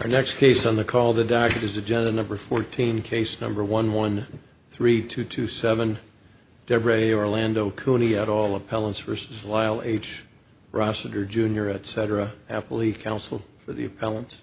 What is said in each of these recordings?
Our next case on the call the docket is agenda number 14 case number 1 1 3 2 2 7 Debra Orlando Cooney at all appellants versus Lyle H Rossiter jr. etc. appellee counsel for the appellants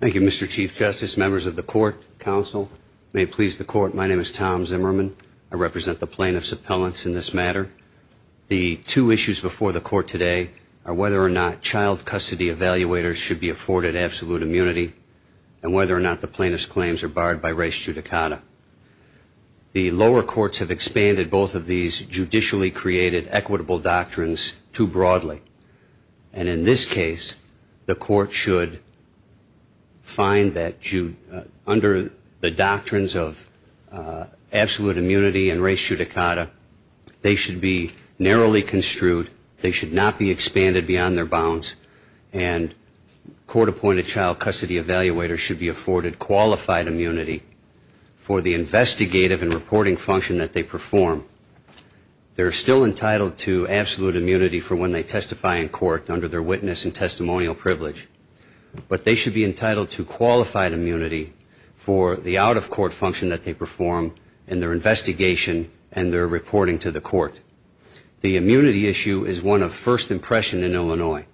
thank you mr. chief justice members of the court counsel may please the court my name is Tom Zimmerman I represent the plaintiffs appellants in this matter the two issues before the court today are whether or not child custody evaluators should be afforded absolute immunity and whether or not the plaintiffs claims are barred by race judicata the lower courts have expanded both of these judicially created equitable doctrines too broadly and in this case the court should find that you under the doctrines of absolute immunity and race judicata they should be narrowly construed they should not be expanded beyond their bounds and court-appointed child custody evaluators should be afforded qualified immunity for the investigative and reporting function that they perform they're still entitled to absolute immunity for when they testify in court under their witness and testimonial privilege but they should be entitled to qualified immunity for the out-of-court function that they perform in their the immunity issue is one of first impression in Illinois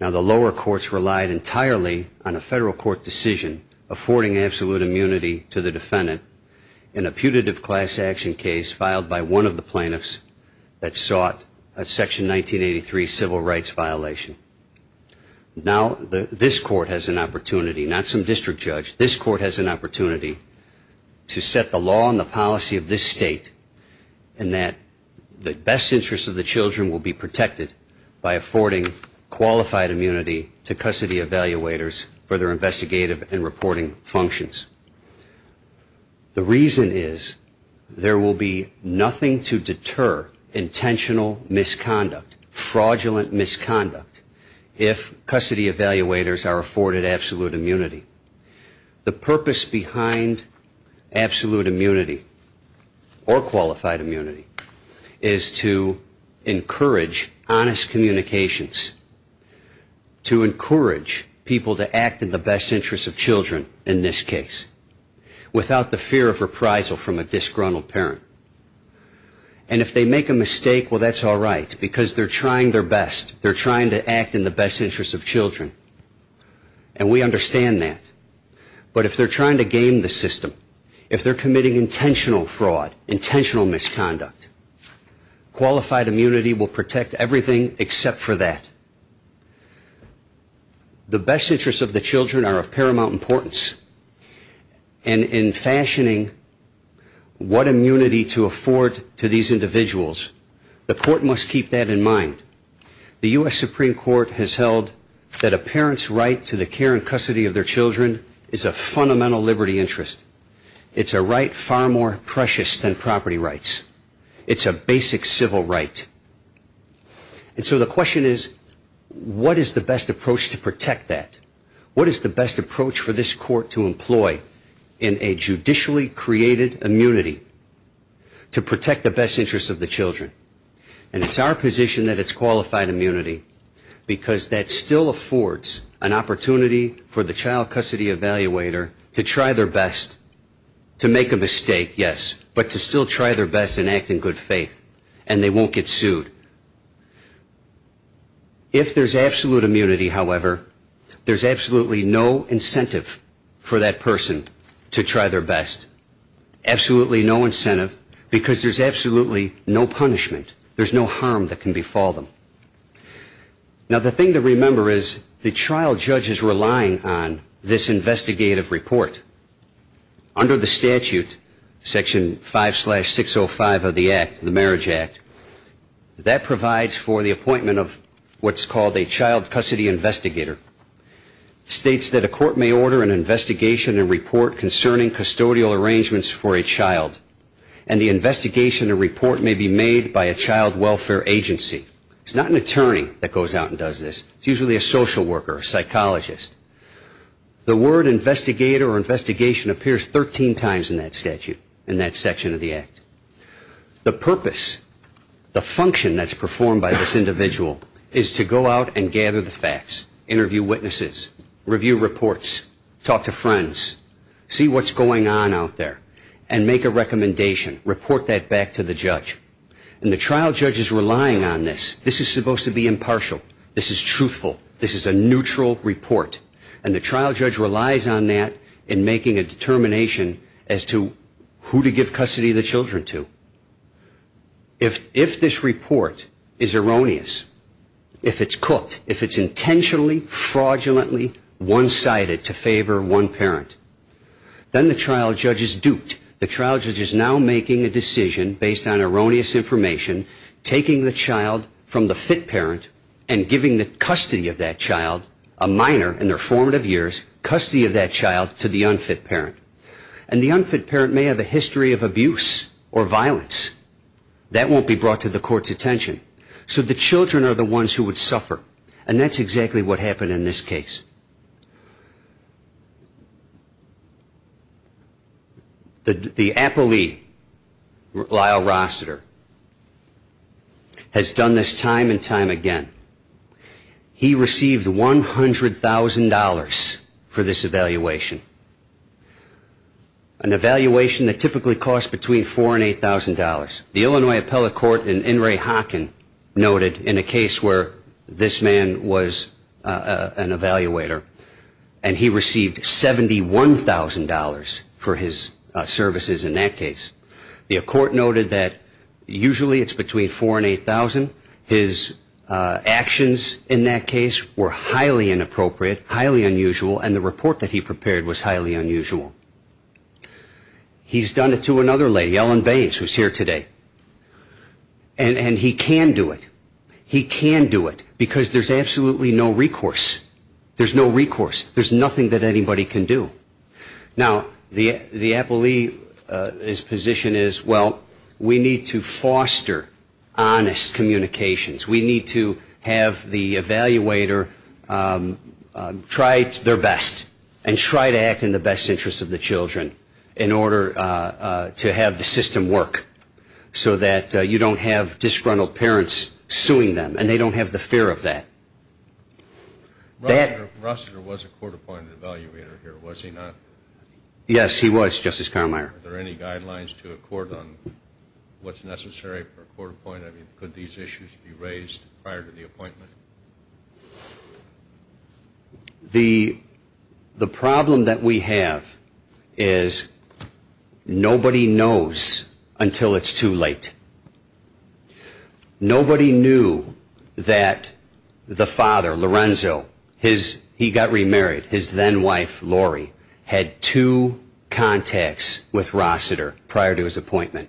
now the lower courts relied entirely on a federal court decision affording absolute immunity to the defendant in a putative class action case filed by one of the plaintiffs that sought a section 1983 civil rights violation now this court has an opportunity not some district judge this court has an opportunity to less interest of the children will be protected by affording qualified immunity to custody evaluators for their investigative and reporting functions the reason is there will be nothing to deter intentional misconduct fraudulent misconduct if custody evaluators are afforded absolute immunity the purpose behind absolute immunity or qualified immunity is to encourage honest communications to encourage people to act in the best interest of children in this case without the fear of reprisal from a disgruntled parent and if they make a mistake well that's all right because they're trying their best they're trying to act in the best interest of children and we understand that but if they're trying to game the system if they're committing intentional fraud intentional misconduct qualified immunity will protect everything except for that the best interests of the children are of paramount importance and in fashioning what immunity to afford to these individuals the court must keep that in mind the US Supreme Court has held that a parent's right to the care and custody of their children is a fundamental liberty interest it's a right far more precious than property rights it's a basic civil right and so the question is what is the best approach to protect that what is the best approach for this court to employ in a judicially created immunity to protect the best interests of the children and it's our position that it's child custody evaluator to try their best to make a mistake yes but to still try their best and act in good faith and they won't get sued if there's absolute immunity however there's absolutely no incentive for that person to try their best absolutely no incentive because there's absolutely no punishment there's no harm that can befall them now the thing to remember is the trial judge is relying on this investigative report under the statute section 5 slash 605 of the act the Marriage Act that provides for the appointment of what's called a child custody investigator states that a court may order an investigation and report concerning custodial arrangements for a child and the investigation a report may be made by a child welfare agency it's not an attorney that goes out and does this usually a social worker psychologist the word investigator or investigation appears 13 times in that statute and that section of the act the purpose the function that's performed by this individual is to go out and gather the facts interview witnesses review reports talk to friends see what's going on out there and make a recommendation report that back to the judge and the trial judge is relying on this this is supposed to be impartial this is truthful this is a neutral report and the trial judge relies on that in making a determination as to who to give custody the children to if if this report is erroneous if it's cooked if it's intentionally fraudulently one-sided to favor one parent then the trial judge is duped the trial judge is now making a decision based on erroneous information taking the child from the fit parent and giving the custody of that child a minor in their formative years custody of that child to the unfit parent and the unfit parent may have a history of abuse or violence that won't be brought to the court's attention so the children are the ones who would suffer and that's has done this time and time again he received $100,000 for this evaluation an evaluation that typically cost between four and eight thousand dollars the Illinois appellate court and in Ray Hocken noted in a case where this man was an evaluator and he received seventy-one thousand dollars for his services in that case the court noted that usually it's between four and eight thousand his actions in that case were highly inappropriate highly unusual and the report that he prepared was highly unusual he's done it to another lady Ellen Baines who's here today and and he can do it he can do it because there's absolutely no recourse there's no recourse there's nothing that communications we need to have the evaluator try their best and try to act in the best interest of the children in order to have the system work so that you don't have disgruntled parents suing them and they don't have the fear of these issues raised prior to the appointment the the problem that we have is nobody knows until it's too late nobody knew that the father Lorenzo his he got remarried his then wife Lori had two contacts with Rossiter prior to his pre-appointment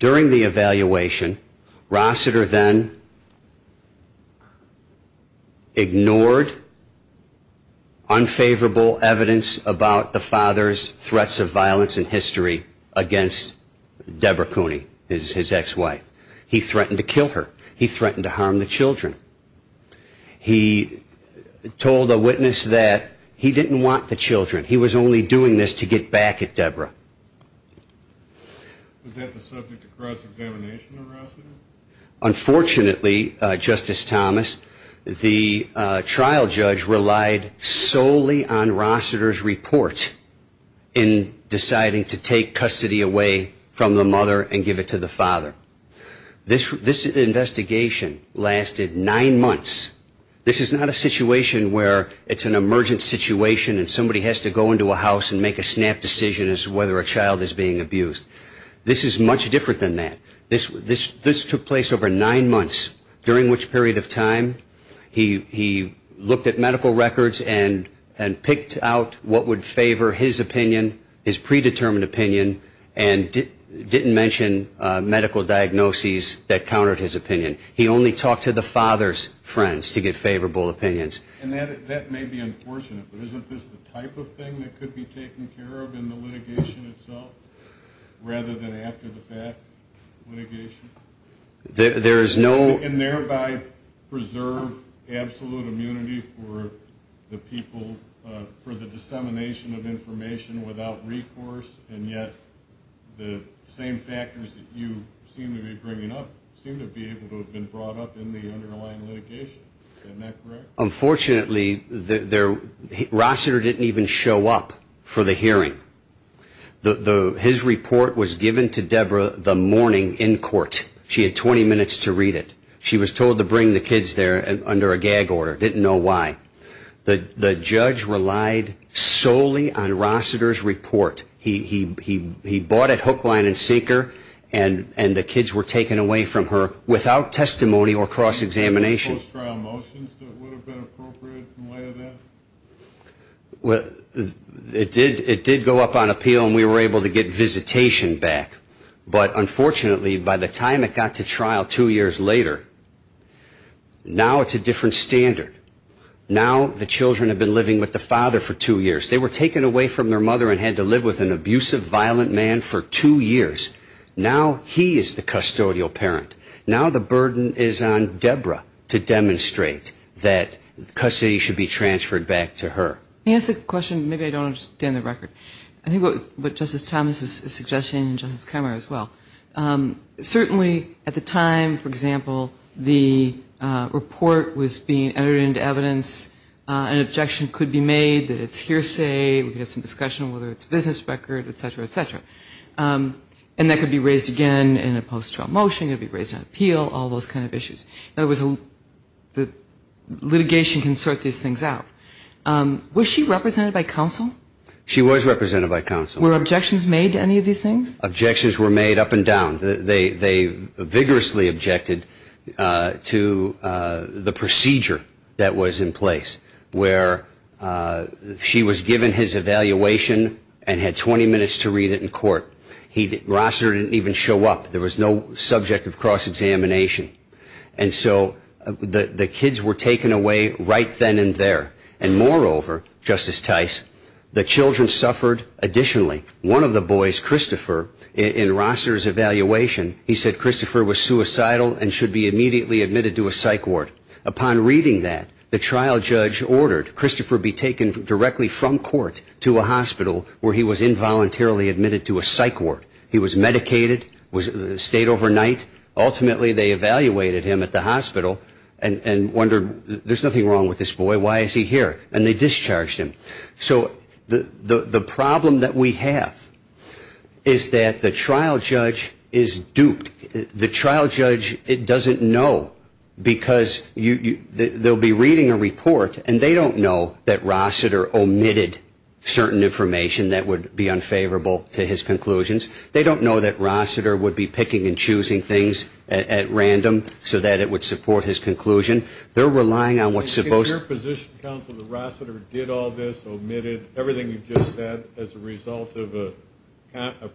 during the evaluation Rossiter then ignored unfavorable evidence about the father's threats of violence in history against Debra Cooney is his ex-wife he threatened to kill her he threatened to harm the children he told a witness that he didn't want the children he was only doing this to get back at Debra unfortunately Justice Thomas the trial judge relied solely on Rossiter's report in deciding to take custody away from the mother and give it to the father this this investigation lasted nine months this is not a situation where it's an emergent situation and somebody has to go into a house and make a snap decision as to whether a child is being abused this is much different than that this this this took place over nine months during which period of time he he looked at medical records and and picked out what would favor his opinion his predetermined opinion and didn't mention medical diagnoses that countered his opinion he only talked to the father's friends to get favorable opinions and that may be unfortunate but isn't this the type of thing that could be taken care of in the litigation itself rather than after the fact litigation there is no and thereby preserve absolute immunity for the dissemination of information without recourse and yet the same factors that you seem to be bringing up seem to be able to have been brought up in the underlying litigation unfortunately there Rossiter didn't even show up for the hearing the his report was given to Debra the morning in court she had 20 minutes to read it she was told to bring the kids there and under a gag order didn't know why the judge relied solely on Rossiter's report he he he bought it hook line and sinker and and the kids were taken away from her without testimony or cross-examination well it did it did go up on appeal and we were able to get visitation back but unfortunately by the time it got to now the children have been living with the father for two years they were taken away from their mother and had to live with an abusive violent man for two years now he is the custodial parent now the burden is on Debra to demonstrate that custody should be transferred back to her yes the question maybe I don't understand the record I think what but justice Thomas's suggestion and just camera as well certainly at the time for example the report was being entered into evidence an objection could be made that it's hearsay we have some discussion whether it's business record etc etc and that could be raised again in a post-trial motion it'd be raised on appeal all those kind of issues there was a the litigation can sort these things out was she represented by counsel she was represented by counsel were objections made to any of these things objections were made up and down they vigorously objected to the procedure that was in place where she was given his evaluation and had 20 minutes to read it in court he didn't even show up there was no subject of cross-examination and so the kids were taken away right then and there and moreover justice Tice the children suffered additionally one of the boys Christopher in Rosser's evaluation he said Christopher was suicidal and should be immediately admitted to a psych ward upon reading that the trial judge ordered Christopher be taken directly from court to a hospital where he was involuntarily admitted to a psych ward he was medicated was stayed overnight ultimately they evaluated him at the hospital and and wondered there's nothing wrong with this boy why is he here and they discharged him so the the problem that we have is that the trial judge is duped the trial judge it doesn't know because you they'll be reading a report and they don't know that Rossiter omitted certain information that would be unfavorable to his conclusions they don't know that Rossiter would be picking and choosing things at random so that it would support his conclusion they're relying on what suppose your position counsel the Rossiter did all this omitted everything you've just said as a result of a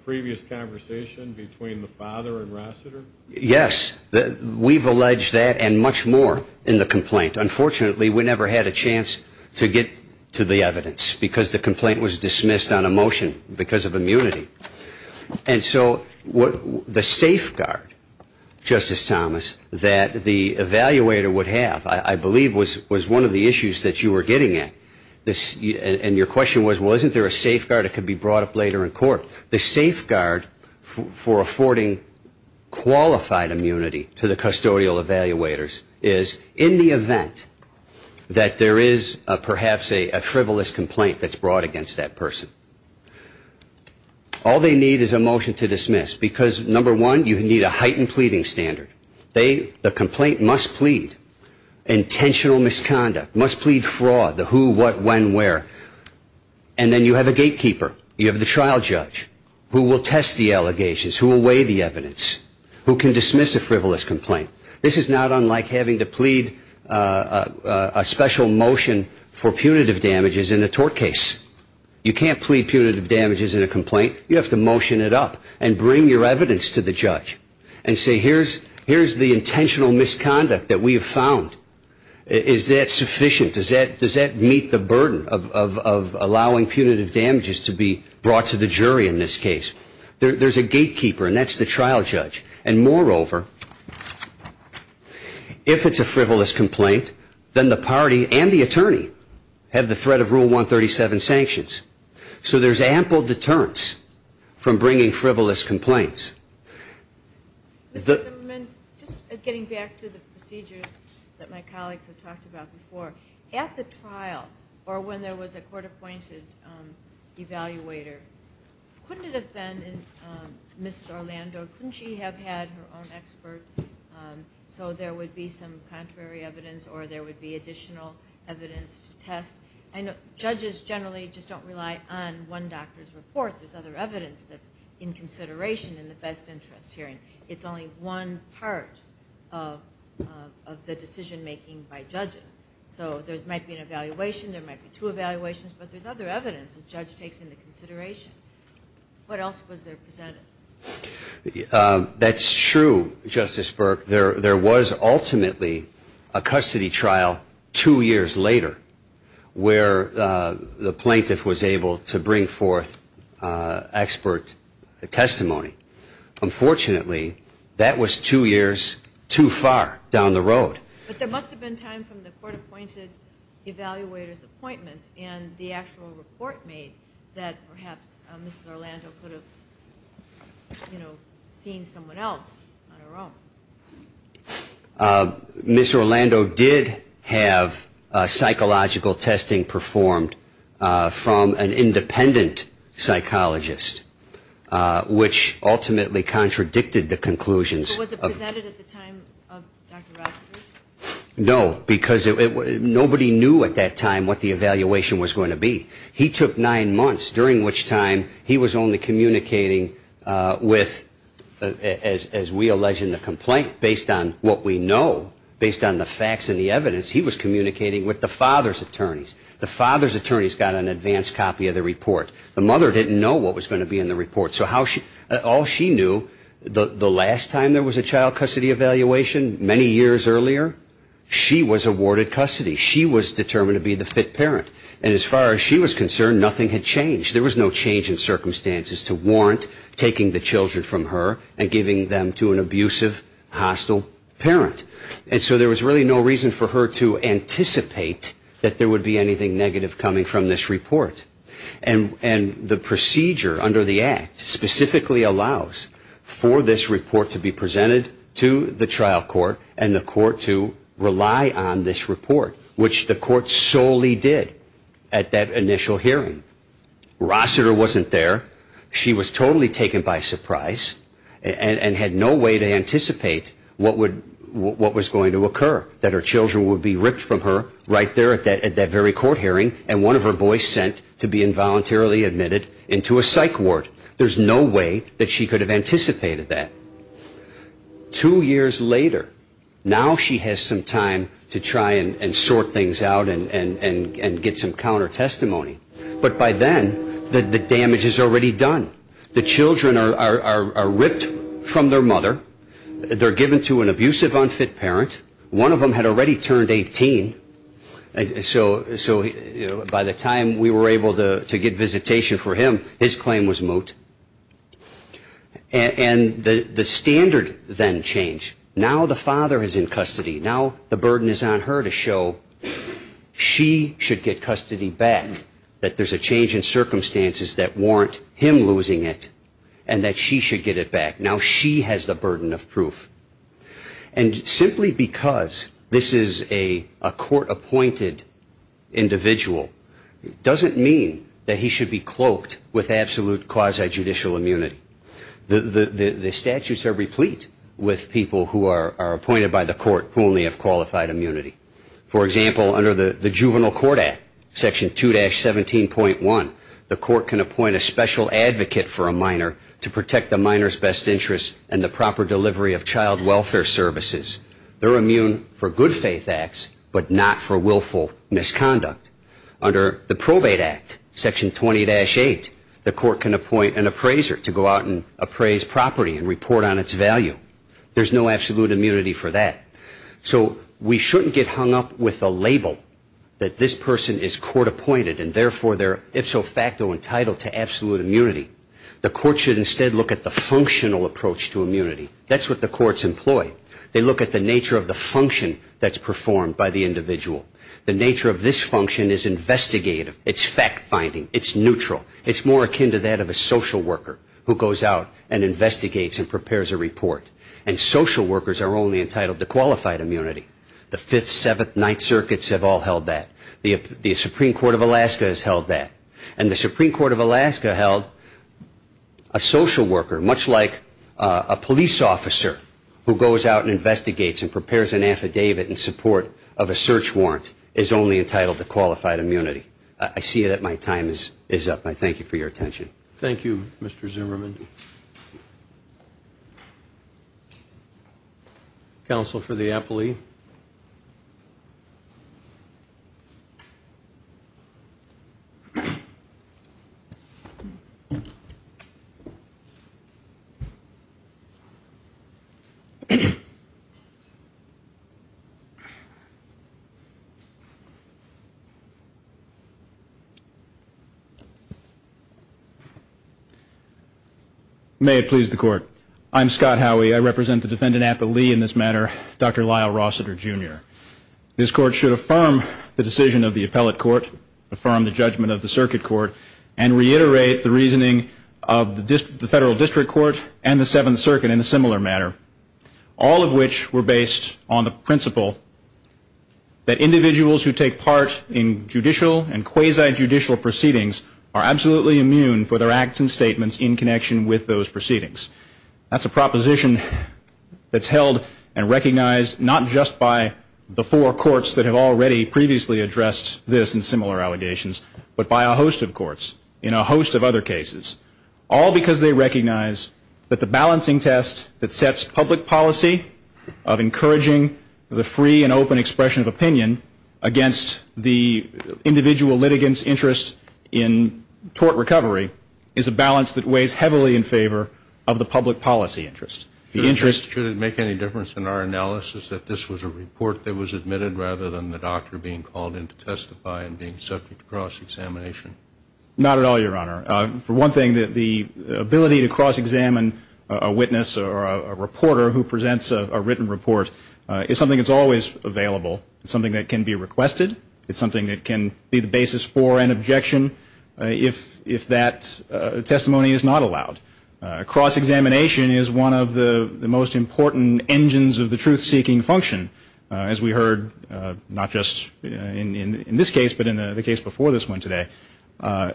previous conversation between the father and Rossiter yes that we've alleged that and much more in the complaint unfortunately we never had a chance to get to the evidence because the complaint was dismissed on a motion because of immunity and so what the safeguard justice Thomas that the evaluator would have I believe was was one of the issues that you were getting at this and your question was wasn't there a safeguard it could be brought up later in court the safeguard for affording qualified immunity to the custodial evaluators is in the event that there is a perhaps a frivolous complaint that's brought against that person all they need is a motion to dismiss because number one you need a heightened pleading standard they the complaint must plead intentional misconduct must plead for all the who what when where and then you have a gatekeeper you have the trial judge who will test the allegations who will weigh the evidence who can dismiss a frivolous complaint this is not unlike having to plead punitive damages in a complaint you have to motion it up and bring your evidence to the judge and say here's here's the intentional misconduct that we have found is that sufficient is that does that meet the burden of allowing punitive damages to be brought to the jury in this case there's a gatekeeper and that's the trial judge and moreover if it's a frivolous complaint then the so there's ample deterrence from bringing frivolous complaints just getting back to the procedures that my colleagues have talked about before at the trial or when there was a court-appointed evaluator couldn't it have been in mrs. Orlando couldn't she have had her own expert so there would be some contrary evidence or there would be additional evidence to test and judges generally just don't rely on one doctor's report there's other evidence that's in consideration in the best interest hearing it's only one part of of the decision-making by judges so there's might be an evaluation there might be two evaluations but there's other evidence the judge takes into consideration what else was there presented that's true justice Burke there was ultimately a custody trial two years later where the plaintiff was able to bring forth expert testimony unfortunately that was two years too far down the road but there must have been time from the court-appointed evaluators appointment and the actual report made that perhaps mrs. Orlando you know seeing someone else miss Orlando did have psychological testing performed from an independent psychologist which ultimately contradicted the conclusions no because it was nobody knew at that time what the evaluation was going to be he took nine months during which time he was only communicating with as we allege in the complaint based on what we know based on the facts and the evidence he was communicating with the father's attorneys the father's attorneys got an advanced copy of the report the mother didn't know what was going to be in the report so how she all she knew the last time there was a child custody evaluation many years earlier she was awarded custody she was determined to be the fit parent and as far as she was aware of the circumstances to warrant taking the children from her and giving them to an abusive hostile parent and so there was really no reason for her to anticipate that there would be anything negative coming from this report and and the procedure under the act specifically allows for this report to be presented to the trial court and the court to rely on this report which the court solely did at that initial hearing Rossiter wasn't there she was totally taken by surprise and had no way to anticipate what would what was going to occur that her children would be ripped from her right there at that at that very court hearing and one of her boys sent to be involuntarily admitted into a psych ward there's no way that she could have anticipated that two years later now she has some time to try and sort things out and and and get some counter testimony but by then the damage is already done the children are ripped from their mother they're given to an abusive unfit parent one of them had already turned 18 so so by the time we were able to to get visitation for him his claim was moot and the standard then change now the father is in custody now the burden is on her to show she should get custody back that there's a change in circumstances that warrant him losing it and that she should get it back now she has the burden of proof and simply because this is a a court appointed individual doesn't mean that he should be cloaked with absolute quasi judicial immunity the the the statutes are replete with people who are only of qualified immunity for example under the the Juvenile Court Act section 2-17.1 the court can appoint a special advocate for a minor to protect the minors best interest and the proper delivery of child welfare services they're immune for good faith acts but not for willful misconduct under the probate act section 20-8 the court can appoint an appraiser to go out and appraise property and report on its value there's no absolute immunity for that so we shouldn't get hung up with the label that this person is court appointed and therefore they're ipso facto entitled to absolute immunity the court should instead look at the functional approach to immunity that's what the courts employed they look at the nature of the function that's performed by the individual the nature of this function is investigative its fact-finding its neutral it's more akin to that of a social worker who goes out and investigates and prepares a report and social workers are only entitled to qualified immunity the 5th 7th 9th circuits have all held that the Supreme Court of Alaska has held that and the Supreme Court of Alaska held a social worker much like a police officer who goes out and investigates and prepares an affidavit in support of a search warrant is only entitled to qualified immunity I see it at my time is is up I thank you for your attention Thank You mr. Zimmerman council for the Apple II may it please the court I'm Scott Howie I represent the defendant Apple II in this matter dr. Lyle Rossiter jr. this court should affirm the decision of the appellate court affirm the judgment of the circuit court and reiterate the reasoning of the district the federal district court and the 7th circuit in a similar manner all of which were based on the principle that individuals who take part in judicial and quasi judicial proceedings are absolutely immune for their acts and statements in connection with those proceedings that's a proposition that's held and recognized not just by the four courts that have already previously addressed this and similar allegations but by a host of courts in a host of other cases all because they recognize that the balancing test that sets public policy of encouraging the free and open expression of opinion against the individual litigants interest in tort recovery is a balance that weighs heavily in favor of the public policy interest the interest should it make any difference in our analysis that this was a report that was admitted rather than the doctor being called in to testify and being subject to cross-examination not at all your honor for one thing that the ability to cross-examine a witness or a reporter who presents a written report is something that's always available it's something that can be that testimony is not allowed cross-examination is one of the most important engines of the truth-seeking function as we heard not just in in this case but in the case before this one today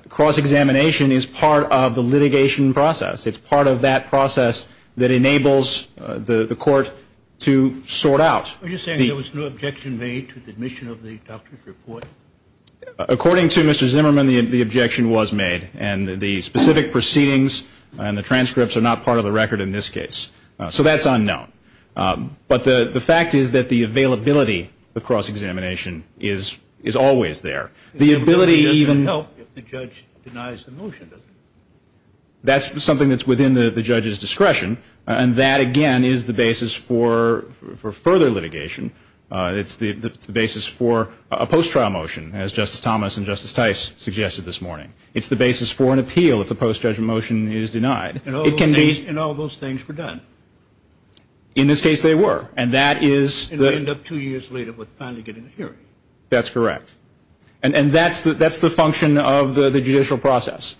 cross-examination is part of the litigation process it's part of that process that enables the the court to sort out there was no objection made to the admission of the doctor's report according to mr. Zimmerman the objection was made and the specific proceedings and the transcripts are not part of the record in this case so that's unknown but the the fact is that the availability of cross-examination is is always there the ability even help that's something that's within the judges discretion and that again is the basis for for further litigation it's the basis for a post-trial motion as justice Thomas and justice Tice suggested this morning it's the basis for an appeal if the post-judge motion is denied it can be and all those things were done in this case they were and that is the end up two years later with finally getting a hearing that's correct and and that's that that's the function of the the judicial process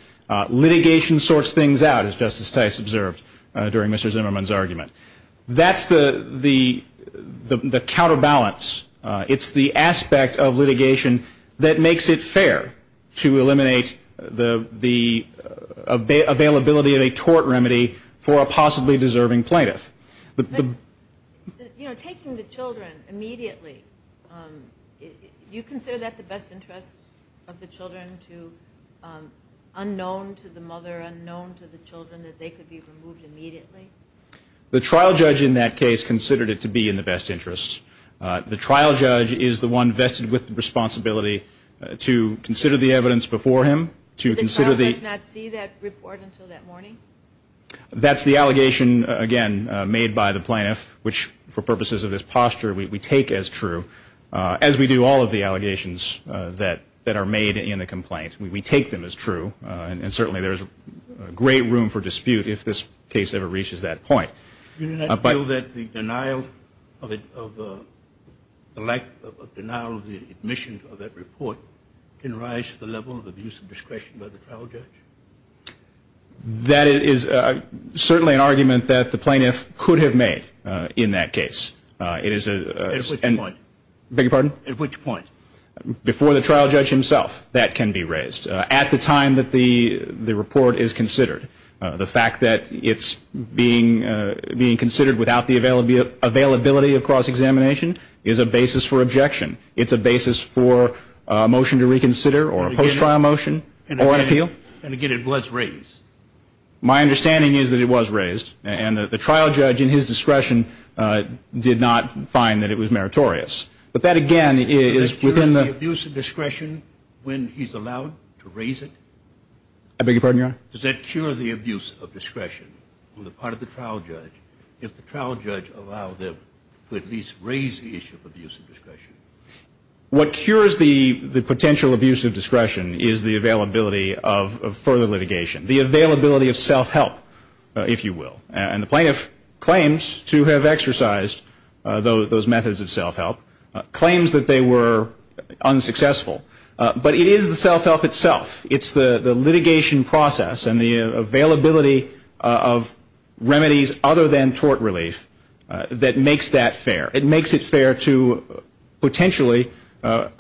litigation sorts things out as justice Tice observed during mr. Zimmerman's argument that's the the the counterbalance it's the aspect of litigation that makes it fair to eliminate the the availability of a tort remedy for a possibly deserving plaintiff the you know taking the children immediately do you consider that the best interest of the children to unknown to the mother unknown to the trial judge in that case considered it to be in the best interest the trial judge is the one vested with responsibility to consider the evidence before him to consider the that's the allegation again made by the plan which for purposes of this posture we take as true as we do all of the allegations that that are made in a complaint we take them as true and certainly there's great room for dispute if this case ever reaches that point but I know that the denial of it of the lack of denial of the admission of that report can rise to the level of abuse of discretion by the trial judge that it is certainly an argument that the plaintiff could have made in that case it is a point big pardon at which point before the trial judge himself that can be raised at the time that the the report is considered the fact that it's being being considered without the availability of cross-examination is a basis for objection it's a basis for a motion to reconsider or a post-trial motion or an appeal and again it was raised my understanding is that it was raised and that the trial judge in his discretion did not find that it was meritorious but that again is within the use of discretion when he's allowed to raise it I beg your pardon your honor does that cure the abuse of discretion on the part of the trial judge if the trial judge allow them to at least raise the issue of abuse of discretion what cures the the potential abuse of discretion is the availability of further litigation the availability of self-help if you will and the plaintiff claims to have exercised though those methods of self-help claims that they were unsuccessful but it is the self-help itself it's the the litigation process and the availability of remedies other than tort relief that makes that fair it makes it fair to potentially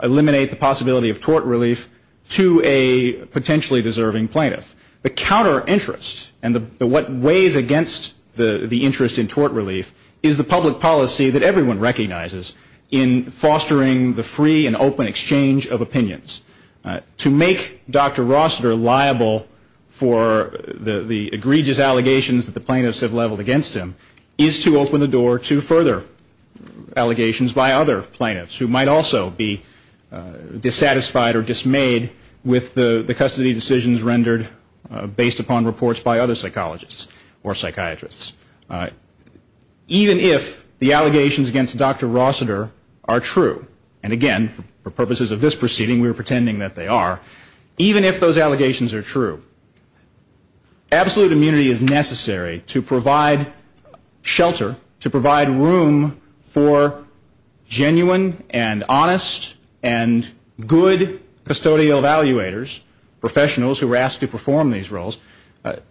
eliminate the possibility of tort relief to a potentially deserving plaintiff the counter-interest and the what weighs against the the interest in tort relief is the public policy that everyone recognizes in fostering the free and open exchange of opinions to make dr. Rossiter liable for the the egregious allegations that the plaintiffs have leveled against him is to open the door to further allegations by other plaintiffs who might also be dissatisfied or dismayed with the the custody decisions rendered based upon reports by other psychologists or psychiatrists even if the allegations against dr. Rossiter are true and again for purposes of this proceeding we were pretending that they are even if those allegations are true absolute immunity is necessary to provide shelter to provide room for genuine and honest and good custodial evaluators professionals who were asked to perform these roles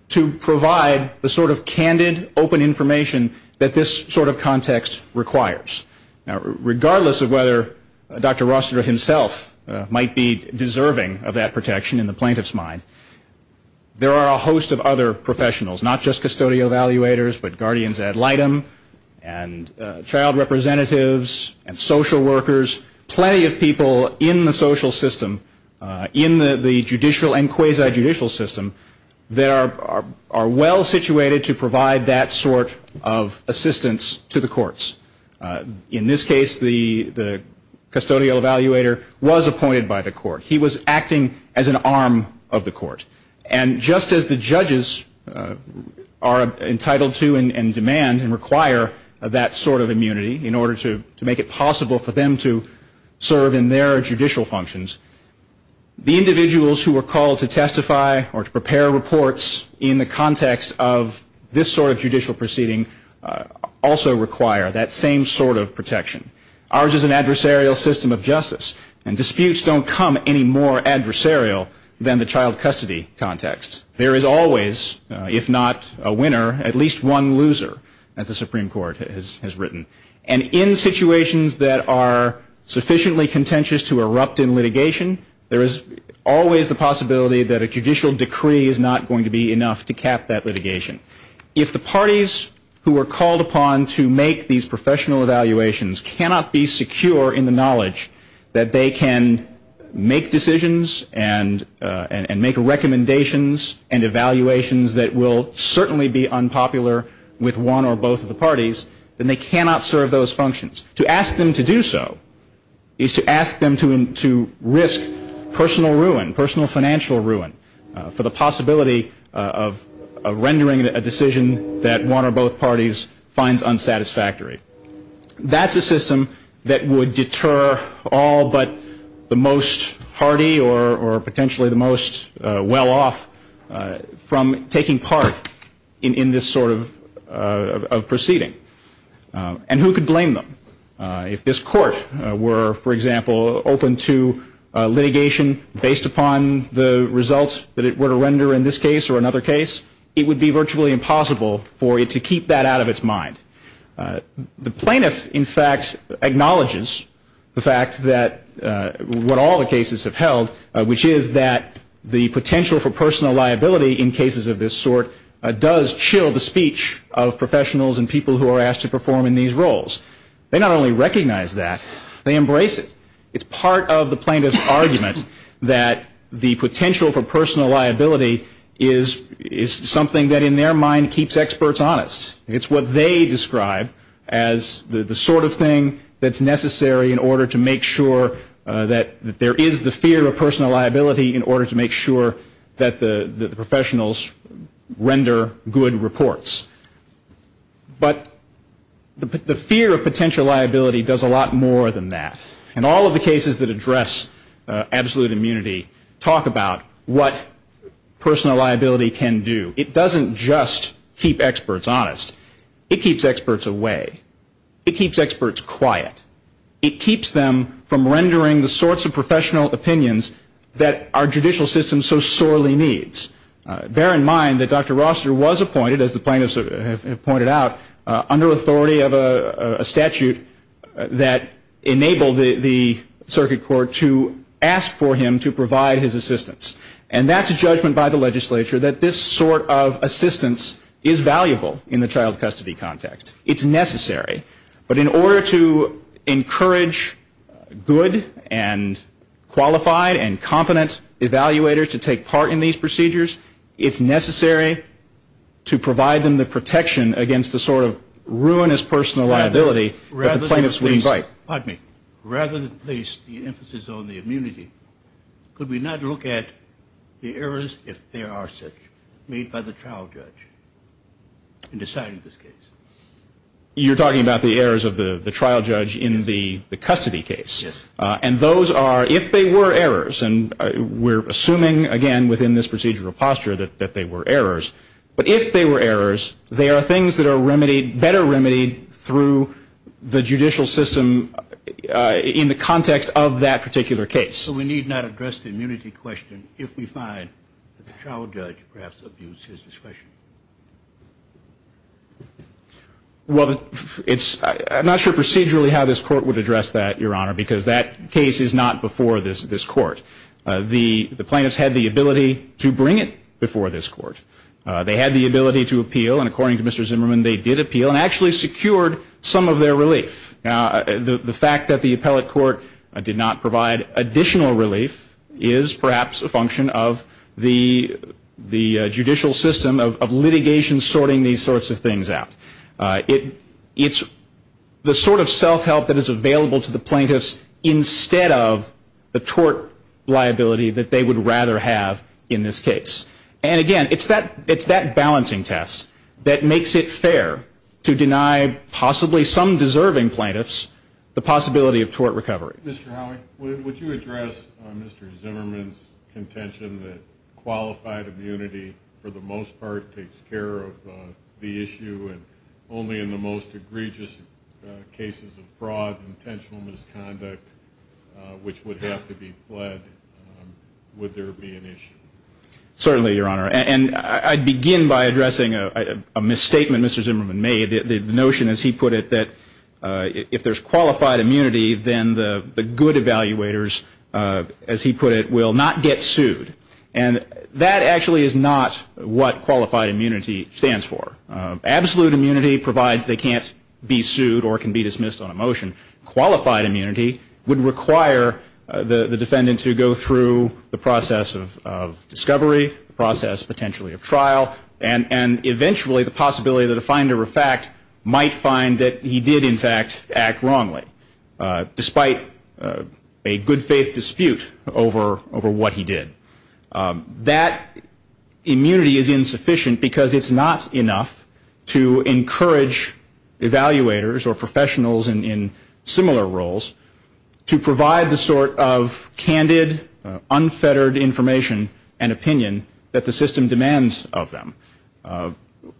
to provide the sort of candid open information that this sort of context requires now regardless of whether dr. Rossiter himself might be deserving of that protection in the plaintiffs mind there are a host of other professionals not just custodial evaluators but guardians ad litem and child representatives and social workers plenty of people in the social system in the judicial and quasi judicial system there are are well situated to provide that sort of assistance to the courts in this case the the custodial evaluator was appointed by the court he was acting as an arm of the court and just as the judges are entitled to and demand and require that sort of immunity in order to make it possible for them to serve in their judicial functions the individuals who are called to testify or to prepare reports in the context of this sort of judicial proceeding also require that same sort of protection ours is an adversarial system of justice and disputes don't come any more adversarial than the child custody context there is always if not a winner at least one loser as the Supreme Court has has written and in situations that are sufficiently contentious to erupt in litigation there is always the possibility that a judicial decree is not going to be enough to cap that litigation if the parties who are called upon to make these professional evaluations cannot be secure in the knowledge that they can make decisions and and make recommendations and evaluations that will certainly be unpopular with one or both of the parties then they cannot serve those functions to ask them to do so is to ask them to risk personal ruin personal financial ruin for the possibility of rendering a decision that one or both parties finds unsatisfactory that's a system that would deter all but the most hardy or or potentially the most well-off from taking part in in this sort of proceeding and who could blame them if this court were for example open to litigation based upon the results that it were to render in this case or another case it would be virtually impossible for it to keep that out of its mind the plaintiff in fact acknowledges the fact that what all the cases have held which is that the potential for personal liability in the speech of professionals and people who are asked to perform in these roles they not only recognize that they embrace it it's part of the plaintiff's argument that the potential for personal liability is is something that in their mind keeps experts honest it's what they describe as the sort of thing that's necessary in order to make sure that there is the fear of personal liability in order to make sure that the professionals render good reports but the fear of potential liability does a lot more than that and all of the cases that address absolute immunity talk about what personal liability can do it doesn't just keep experts honest it keeps experts away it keeps experts quiet it keeps them from rendering the sorts of professional opinions that our judicial system so sorely needs bear in mind that dr. roster was appointed as the plaintiffs have pointed out under authority of a statute that enabled the circuit court to ask for him to provide his assistance and that's a judgment by the legislature that this sort of assistance is valuable in the child custody context it's necessary but in order to encourage good and qualified and competent evaluators to take part in these procedures it's necessary to provide them the protection against the sort of ruinous personal liability relatives we invite pardon me rather than place the emphasis on the immunity could we not look at the errors if there are such made by the trial judge in deciding this case you're talking about the errors of the trial judge in the we're assuming again within this procedural posture that that they were errors but if they were errors they are things that are remedied better remedied through the judicial system in the context of that particular case so we need not address the immunity question if we find well it's not sure procedurally how this court would address that your honor because that case is not before this court the plaintiffs had the ability to bring it before this court they had the ability to appeal and according to Mr. Zimmerman they did appeal and actually secured some of their relief the fact that the appellate court did not provide additional relief is perhaps a function of the the judicial system of litigation sorting these sorts of things out it it's the sort of self-help that is available to the plaintiffs instead of the tort liability that they would rather have in this case and again it's that it's that balancing test that makes it fair to deny possibly some deserving plaintiffs the possibility of tort recovery mr. Howard would you address mr. Zimmerman's contention that qualified immunity for the most part takes care of the issue and only in the most egregious cases of fraud intentional misconduct which would have to be fled would there be an issue certainly your honor and I begin by addressing a misstatement mr. Zimmerman made the notion as he put it that if there's qualified immunity then the good evaluators as he put it will not get sued and that actually is not what qualified immunity stands for absolute immunity provides they can't be sued or can be dismissed on a motion qualified immunity would require the defendant to go through the process of discovery process potentially of trial and and eventually the possibility that a finder of fact might find that he did in fact act wrongly despite a good-faith dispute over over what he did that immunity is insufficient because it's not enough to encourage evaluators or professionals and in similar roles to provide the sort of candid unfettered information and opinion that the system demands of them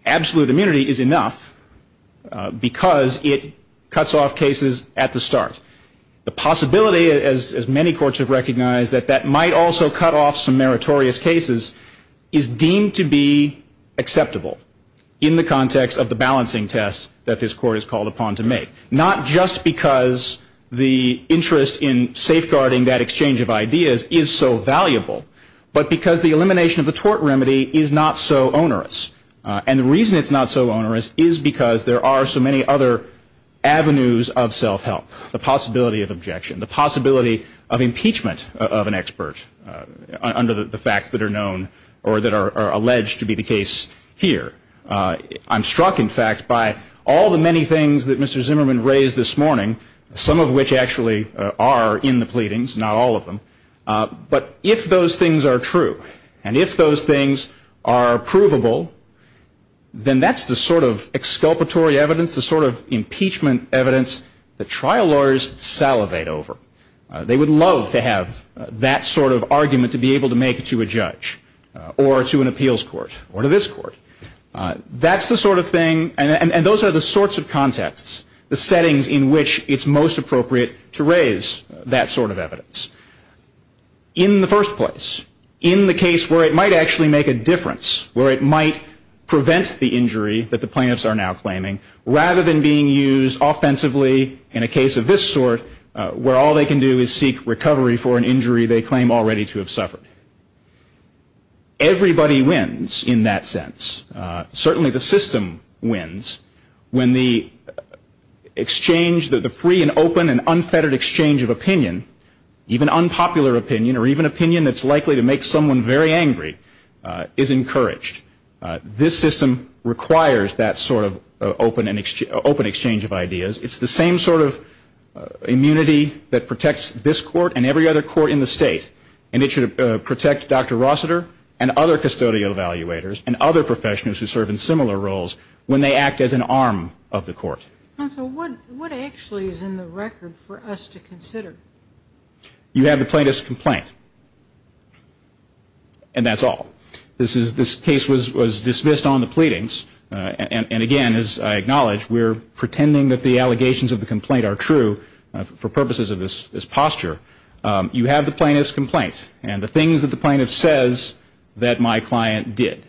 absolute immunity is enough because it cuts off cases at the start the possibility as as many courts have recognized that that might also cut off some meritorious cases is deemed to be acceptable in the context of the balancing test that this court is called upon to make not just because the interest in safeguarding that exchange of ideas is so valuable but because the elimination of the tort remedy is not so onerous and the reason it's not so onerous is because there are so many other avenues of self-help the possibility of objection the of an expert under the fact that are known or that are alleged to be the case here I'm struck in fact by all the many things that Mr. Zimmerman raised this morning some of which actually are in the pleadings not all of them but if those things are true and if those things are provable then that's the sort of exculpatory evidence the sort of impeachment evidence the trial lawyers salivate over they would love to have that sort of argument to be able to make it to a judge or to an appeals court or to this court that's the sort of thing and those are the sorts of contexts the settings in which it's most appropriate to raise that sort of evidence in the first place in the case where it might actually make a difference where it might prevent the injury that the plaintiffs are now claiming rather than being used offensively in a case of this sort where all they can do is seek recovery for an injury they claim already to have suffered everybody wins in that sense certainly the system wins when the exchange that the free and open and unfettered exchange of opinion even unpopular opinion or even opinion that's likely to make someone very angry is encouraged this system requires that sort of open and open exchange of ideas it's the same sort of immunity that protects this court and every other court in the state and it should protect dr. Rossiter and other custodial evaluators and other professionals who serve in similar roles when they act as an arm of the court what actually is in the record for us to consider you have the plaintiffs complaint and that's all this is this case was was dismissed on the pleadings and again as I acknowledge we're pretending that the allegations of the complaint are true for purposes of this posture you have the plaintiffs complaints and the things that the plaintiff says that my client did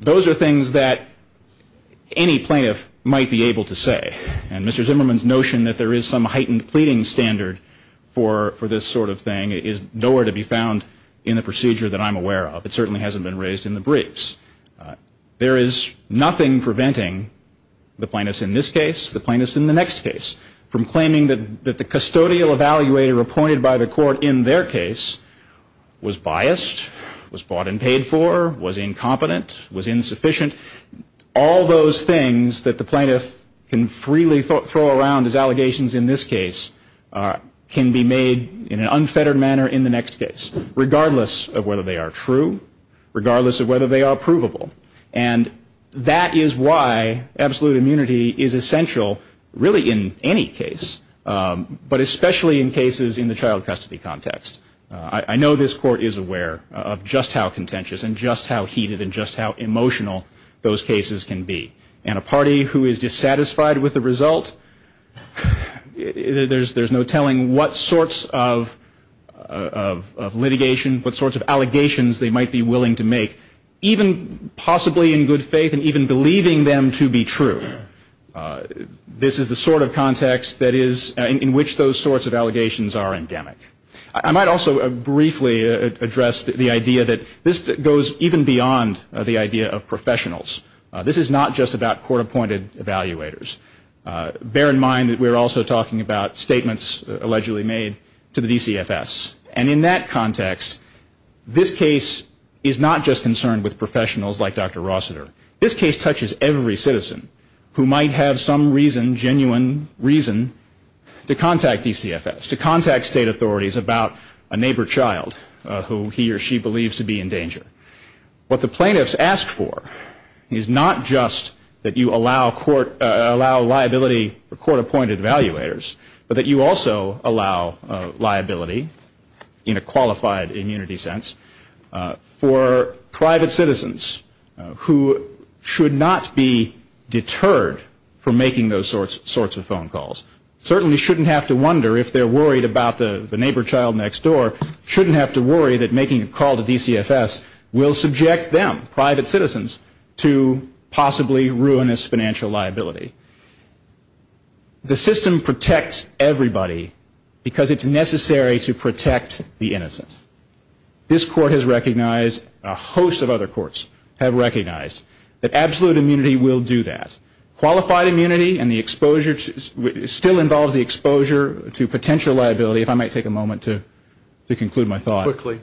those are things that any plaintiff might be able to say and mr. Zimmerman's notion that there is some heightened pleading standard for for this sort of thing is nowhere to be found in the procedure that I'm aware of it certainly hasn't been raised in the briefs there is nothing preventing the plaintiffs in this case the plaintiffs in the next case from claiming that that the custodial evaluator appointed by the court in their case was biased was bought and paid for was incompetent was insufficient all those things that the plaintiff can freely throw around as allegations in this case can be made in regardless of whether they are provable and that is why absolute immunity is essential really in any case but especially in cases in the child custody context I know this court is aware of just how contentious and just how heated and just how emotional those cases can be and a party who is dissatisfied with the result there's there's no telling what sorts of of litigation what sorts of allegations they might be willing to make even possibly in good faith and even believing them to be true this is the sort of context that is in which those sorts of allegations are endemic I might also a briefly addressed the idea that this goes even beyond the idea of professionals this is not just about court-appointed evaluators bear in mind that we're also talking about statements allegedly made to the DCFS and in that context this case is not just concerned with professionals like dr. Rossiter this case touches every citizen who might have some reason genuine reason to contact DCFS to contact state authorities about a neighbor child who he or she believes to be in danger what the plaintiffs asked for is not just that you allow court allow liability for court-appointed evaluators but that you also allow liability in a qualified immunity sense for private citizens who should not be deterred from making those sorts sorts of phone calls certainly shouldn't have to wonder if they're worried about the neighbor child next door shouldn't have to worry that making a call to DCFS will subject them private citizens to possibly ruinous financial liability the system protects everybody because it's necessary to protect the innocent this court has recognized a host of other courts have recognized that absolute immunity will do that qualified immunity and the exposure to still involves the exposure to potential liability if I might take a moment to conclude my thought quickly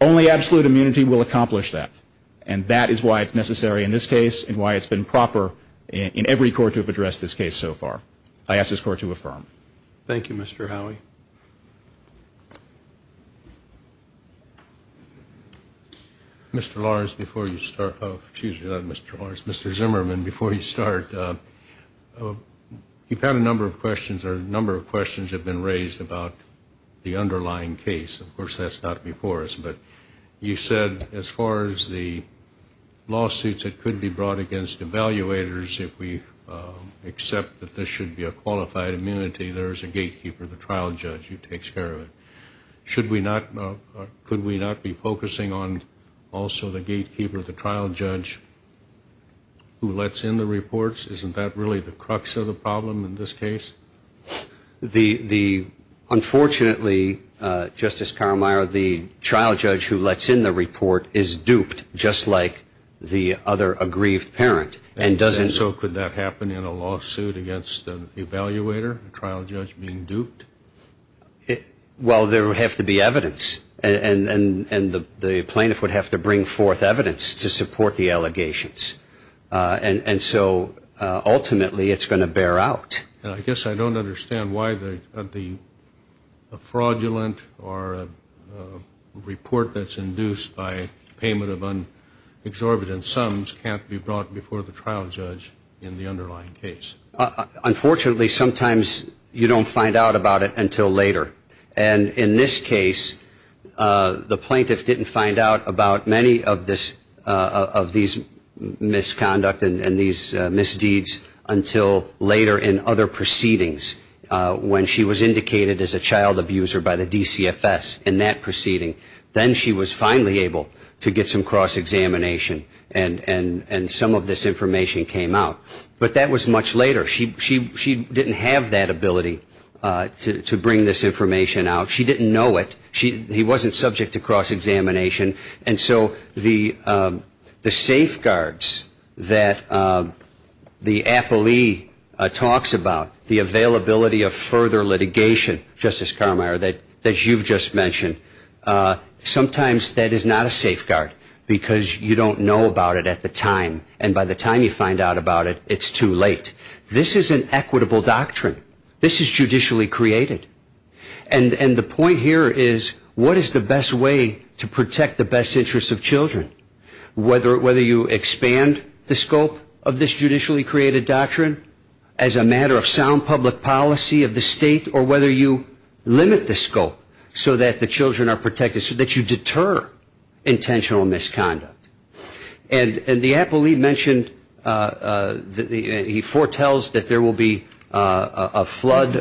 only absolute immunity will accomplish that and that is why it's necessary in this case and why it's been proper in every court to address this case so far I ask this court to affirm thank you Mr. Howie Mr. Zimmerman before you start you've had a number of questions or number of questions have been raised about the underlying case of course that's not before us but you said as far as the lawsuits that could be brought against evaluators if we accept that there should be a qualified immunity there is a gatekeeper the trial judge who takes care of it should we not could we not be focusing on also the gatekeeper the trial judge who lets in the reports isn't that really the crux of the problem in this case the the unfortunately Justice Karameier the trial judge who lets in the report is duped just like the other aggrieved parent and doesn't so could that happen in a lawsuit against an evaluator trial judge being duped it well there would have to be evidence and and the plaintiff would have to bring forth evidence to support the allegations and and so ultimately it's going to bear out and I guess I don't understand why the the fraudulent or report that's induced by payment of unexorbitant sums can't be brought before the trial judge in the underlying case unfortunately sometimes you don't find out about it until later and in this case the plaintiff didn't find out about many of this of these misconduct and these misdeeds until later in other proceedings when she was indicated as a child abuser by the DCFS in that proceeding then she was finally able to get some cross-examination and and and some of this information came out but that was much later she she she didn't have that ability to bring this information out she didn't know it she he wasn't subject to cross-examination and so the the safeguards that the appellee talks about the availability of further litigation justice Carmeier that that you've just mentioned sometimes that is not a safeguard because you don't know about it at the time and by the time you find out about it it's too late this is an equitable doctrine this is judicially created and and the point here is what is the best way to protect the best interests of children whether whether you expand the scope of this judicially created doctrine as a matter of sound public policy of the state or whether you limit the scope so that the children are protected so that you deter intentional misconduct and and the appellee mentioned the he foretells that there will be a flood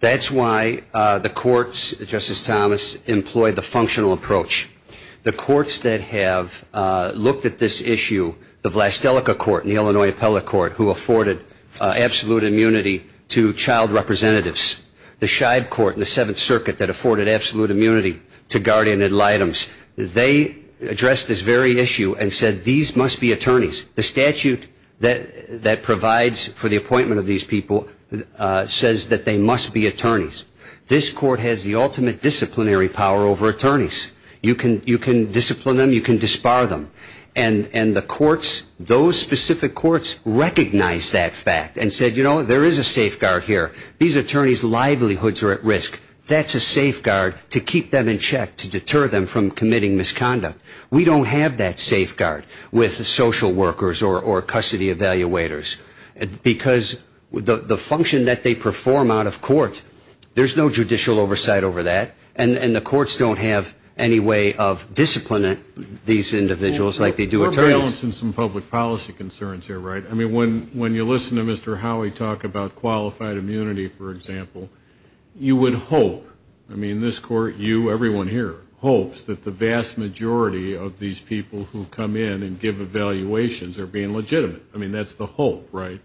that's why the courts justice Thomas employed the functional approach the courts that have looked at this issue the Vlastelica court in the Illinois appellate court who afforded absolute immunity to child representatives the shied court the Seventh Circuit that afforded absolute immunity to guardian ad litems they addressed this very issue and said these must be attorneys the statute that that provides for the appointment of these people says that they must be attorneys this court has the ultimate disciplinary power over attorneys you can you can discipline them you can disbar them and and the courts those specific courts recognize that fact and said you know there is a safeguard here these attorneys livelihoods are at risk that's a safeguard to keep them in check to deter them from committing misconduct we don't have that safeguard with the social workers or or custody evaluators because with the function that they perform out of court there's no judicial oversight over that and and the courts don't have any way of discipline it these individuals like they do a trail in some public policy concerns here right I mean when when you listen to Mr. Howie talk about qualified immunity for example you would hope I mean this court you everyone here hopes that the vast majority of these people who come in and give evaluations are being legitimate I mean that's the hope right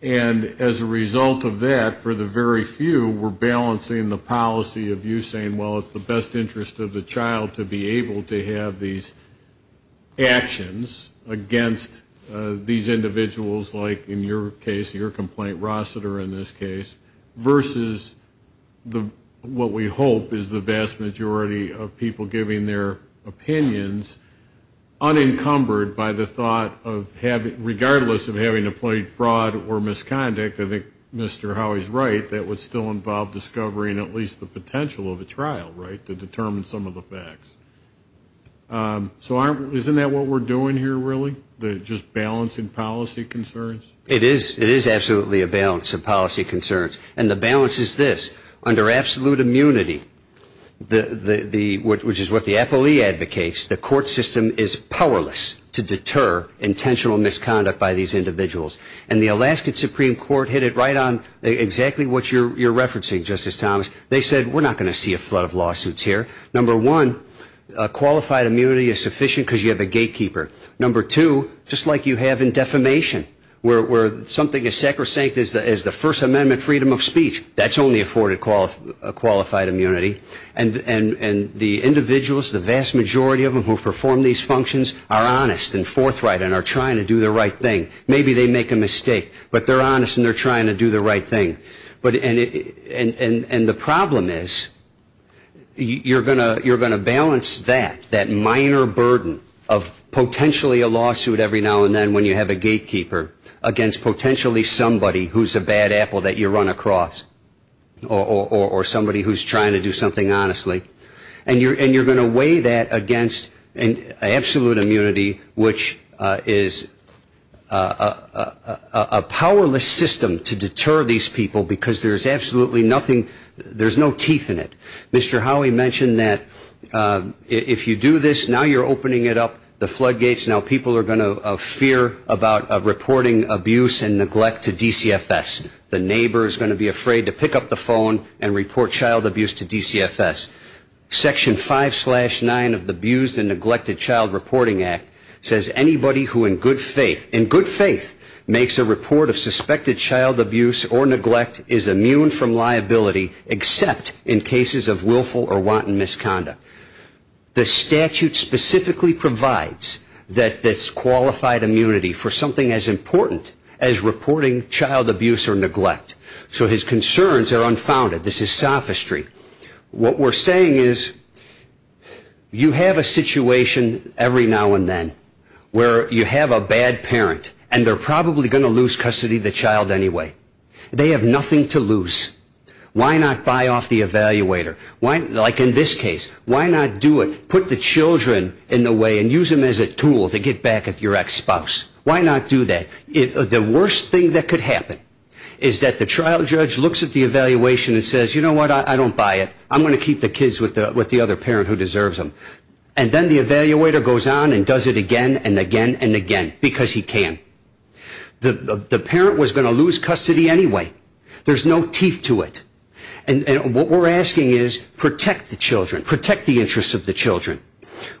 and as a result of that for the very few we're balancing the policy of you saying well it's the best interest of the child to be able to have these actions against these individuals like in your case your complaint Rossiter in this case versus the what we hope is the vast majority of people giving their opinions unencumbered by the thought of having regardless of having a plate fraud or misconduct I think mr. Howie's right that would still involve discovering at least the potential of a trial right to determine some of the facts so aren't isn't that what we're doing here really the just balancing policy concerns it is it is absolutely a balance of policy concerns and the balance is this under absolute immunity the the what which is what the Appley advocates the court system is powerless to deter intentional misconduct by these individuals and the Alaskan Supreme Court hit it right on exactly what you're you're referencing justice Thomas they said we're not going to see a flood of lawsuits here number one qualified immunity is sufficient because you have a gatekeeper number two just like you have in defamation where something is sacrosanct as the as the First Amendment freedom of speech that's only afforded qualified immunity and and and the individuals the vast majority of them who perform these functions are honest and forthright and are trying to do the right thing maybe they make a mistake but they're honest and they're trying to do the right thing but and and and and the problem is you're going to you're going to balance that that minor burden of potentially a lawsuit every now and then when you have a gatekeeper against potentially somebody who's a bad apple that you run across or somebody who's trying to do something honestly and you're and you're going to weigh that against an absolute immunity which is a powerless system to deter these people because there's absolutely nothing there's no teeth in it Mr. Howie mentioned that if you do this now you're opening it up the floodgates now people are going to fear about reporting abuse and neglect to DCFS the neighbor is going to be afraid to pick up the phone and report child abuse to DCFS section 5 slash 9 of the abused and neglected Child Reporting Act says anybody who in good faith in good faith makes a report of suspected child abuse or neglect is immune from liability except in cases of willful or wanton misconduct the statute specifically provides that this qualified immunity for something as important as reporting child abuse or neglect so his concerns are unfounded this is sophistry what we're saying is you have a situation every now and then where you have a bad parent and they're probably going to lose custody the child anyway they have nothing to lose why not buy off the evaluator why like in this case why not do it put the children in the way and use them as a tool to get back at your ex-spouse why not do that if the worst thing that could happen is that the trial judge looks at the evaluation and says you know what I don't buy it I'm going to keep the kids with the with the other parent who deserves them and then the evaluator goes on and does it again and again and again because he can the the parent was going to lose custody anyway there's no teeth to it and what we're asking is protect the children protect the interests of the children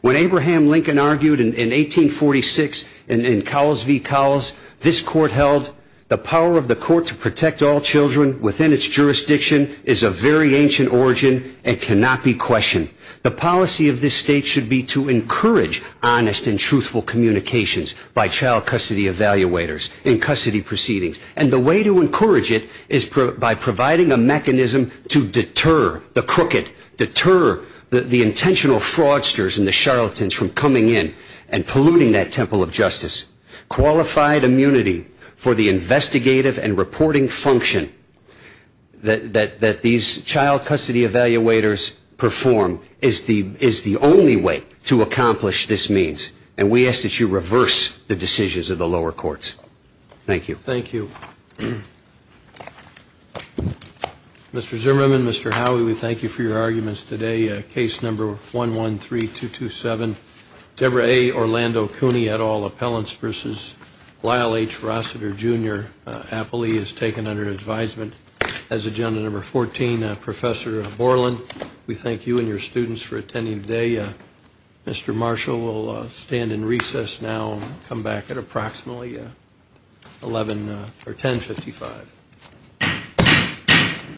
when Abraham Lincoln argued in 1846 and in Cowles v. Cowles this court held the power of the court to protect all children within its jurisdiction is a very ancient origin and cannot be questioned the policy of this state should be to encourage honest and truthful communications by child custody evaluators in custody proceedings and the way to encourage it is by providing a mechanism to deter the crooked deter the intentional fraudsters and the charlatans from coming in and polluting that temple of justice qualified immunity for the investigative and reporting function that that that these child custody evaluators perform is the is the only way to accomplish this means and we ask that you reverse the decisions of the lower courts thank you thank you mr. Zimmerman mr. Howie we thank you for your arguments today case number 113 227 Deborah a Orlando Cooney at all appellants versus Lyle H Rossiter jr. happily is taken under advisement as agenda number 14 professor Borland we thank you and your students for attending today mr. Marshall will stand in recess now come back at approximately 11 or 1055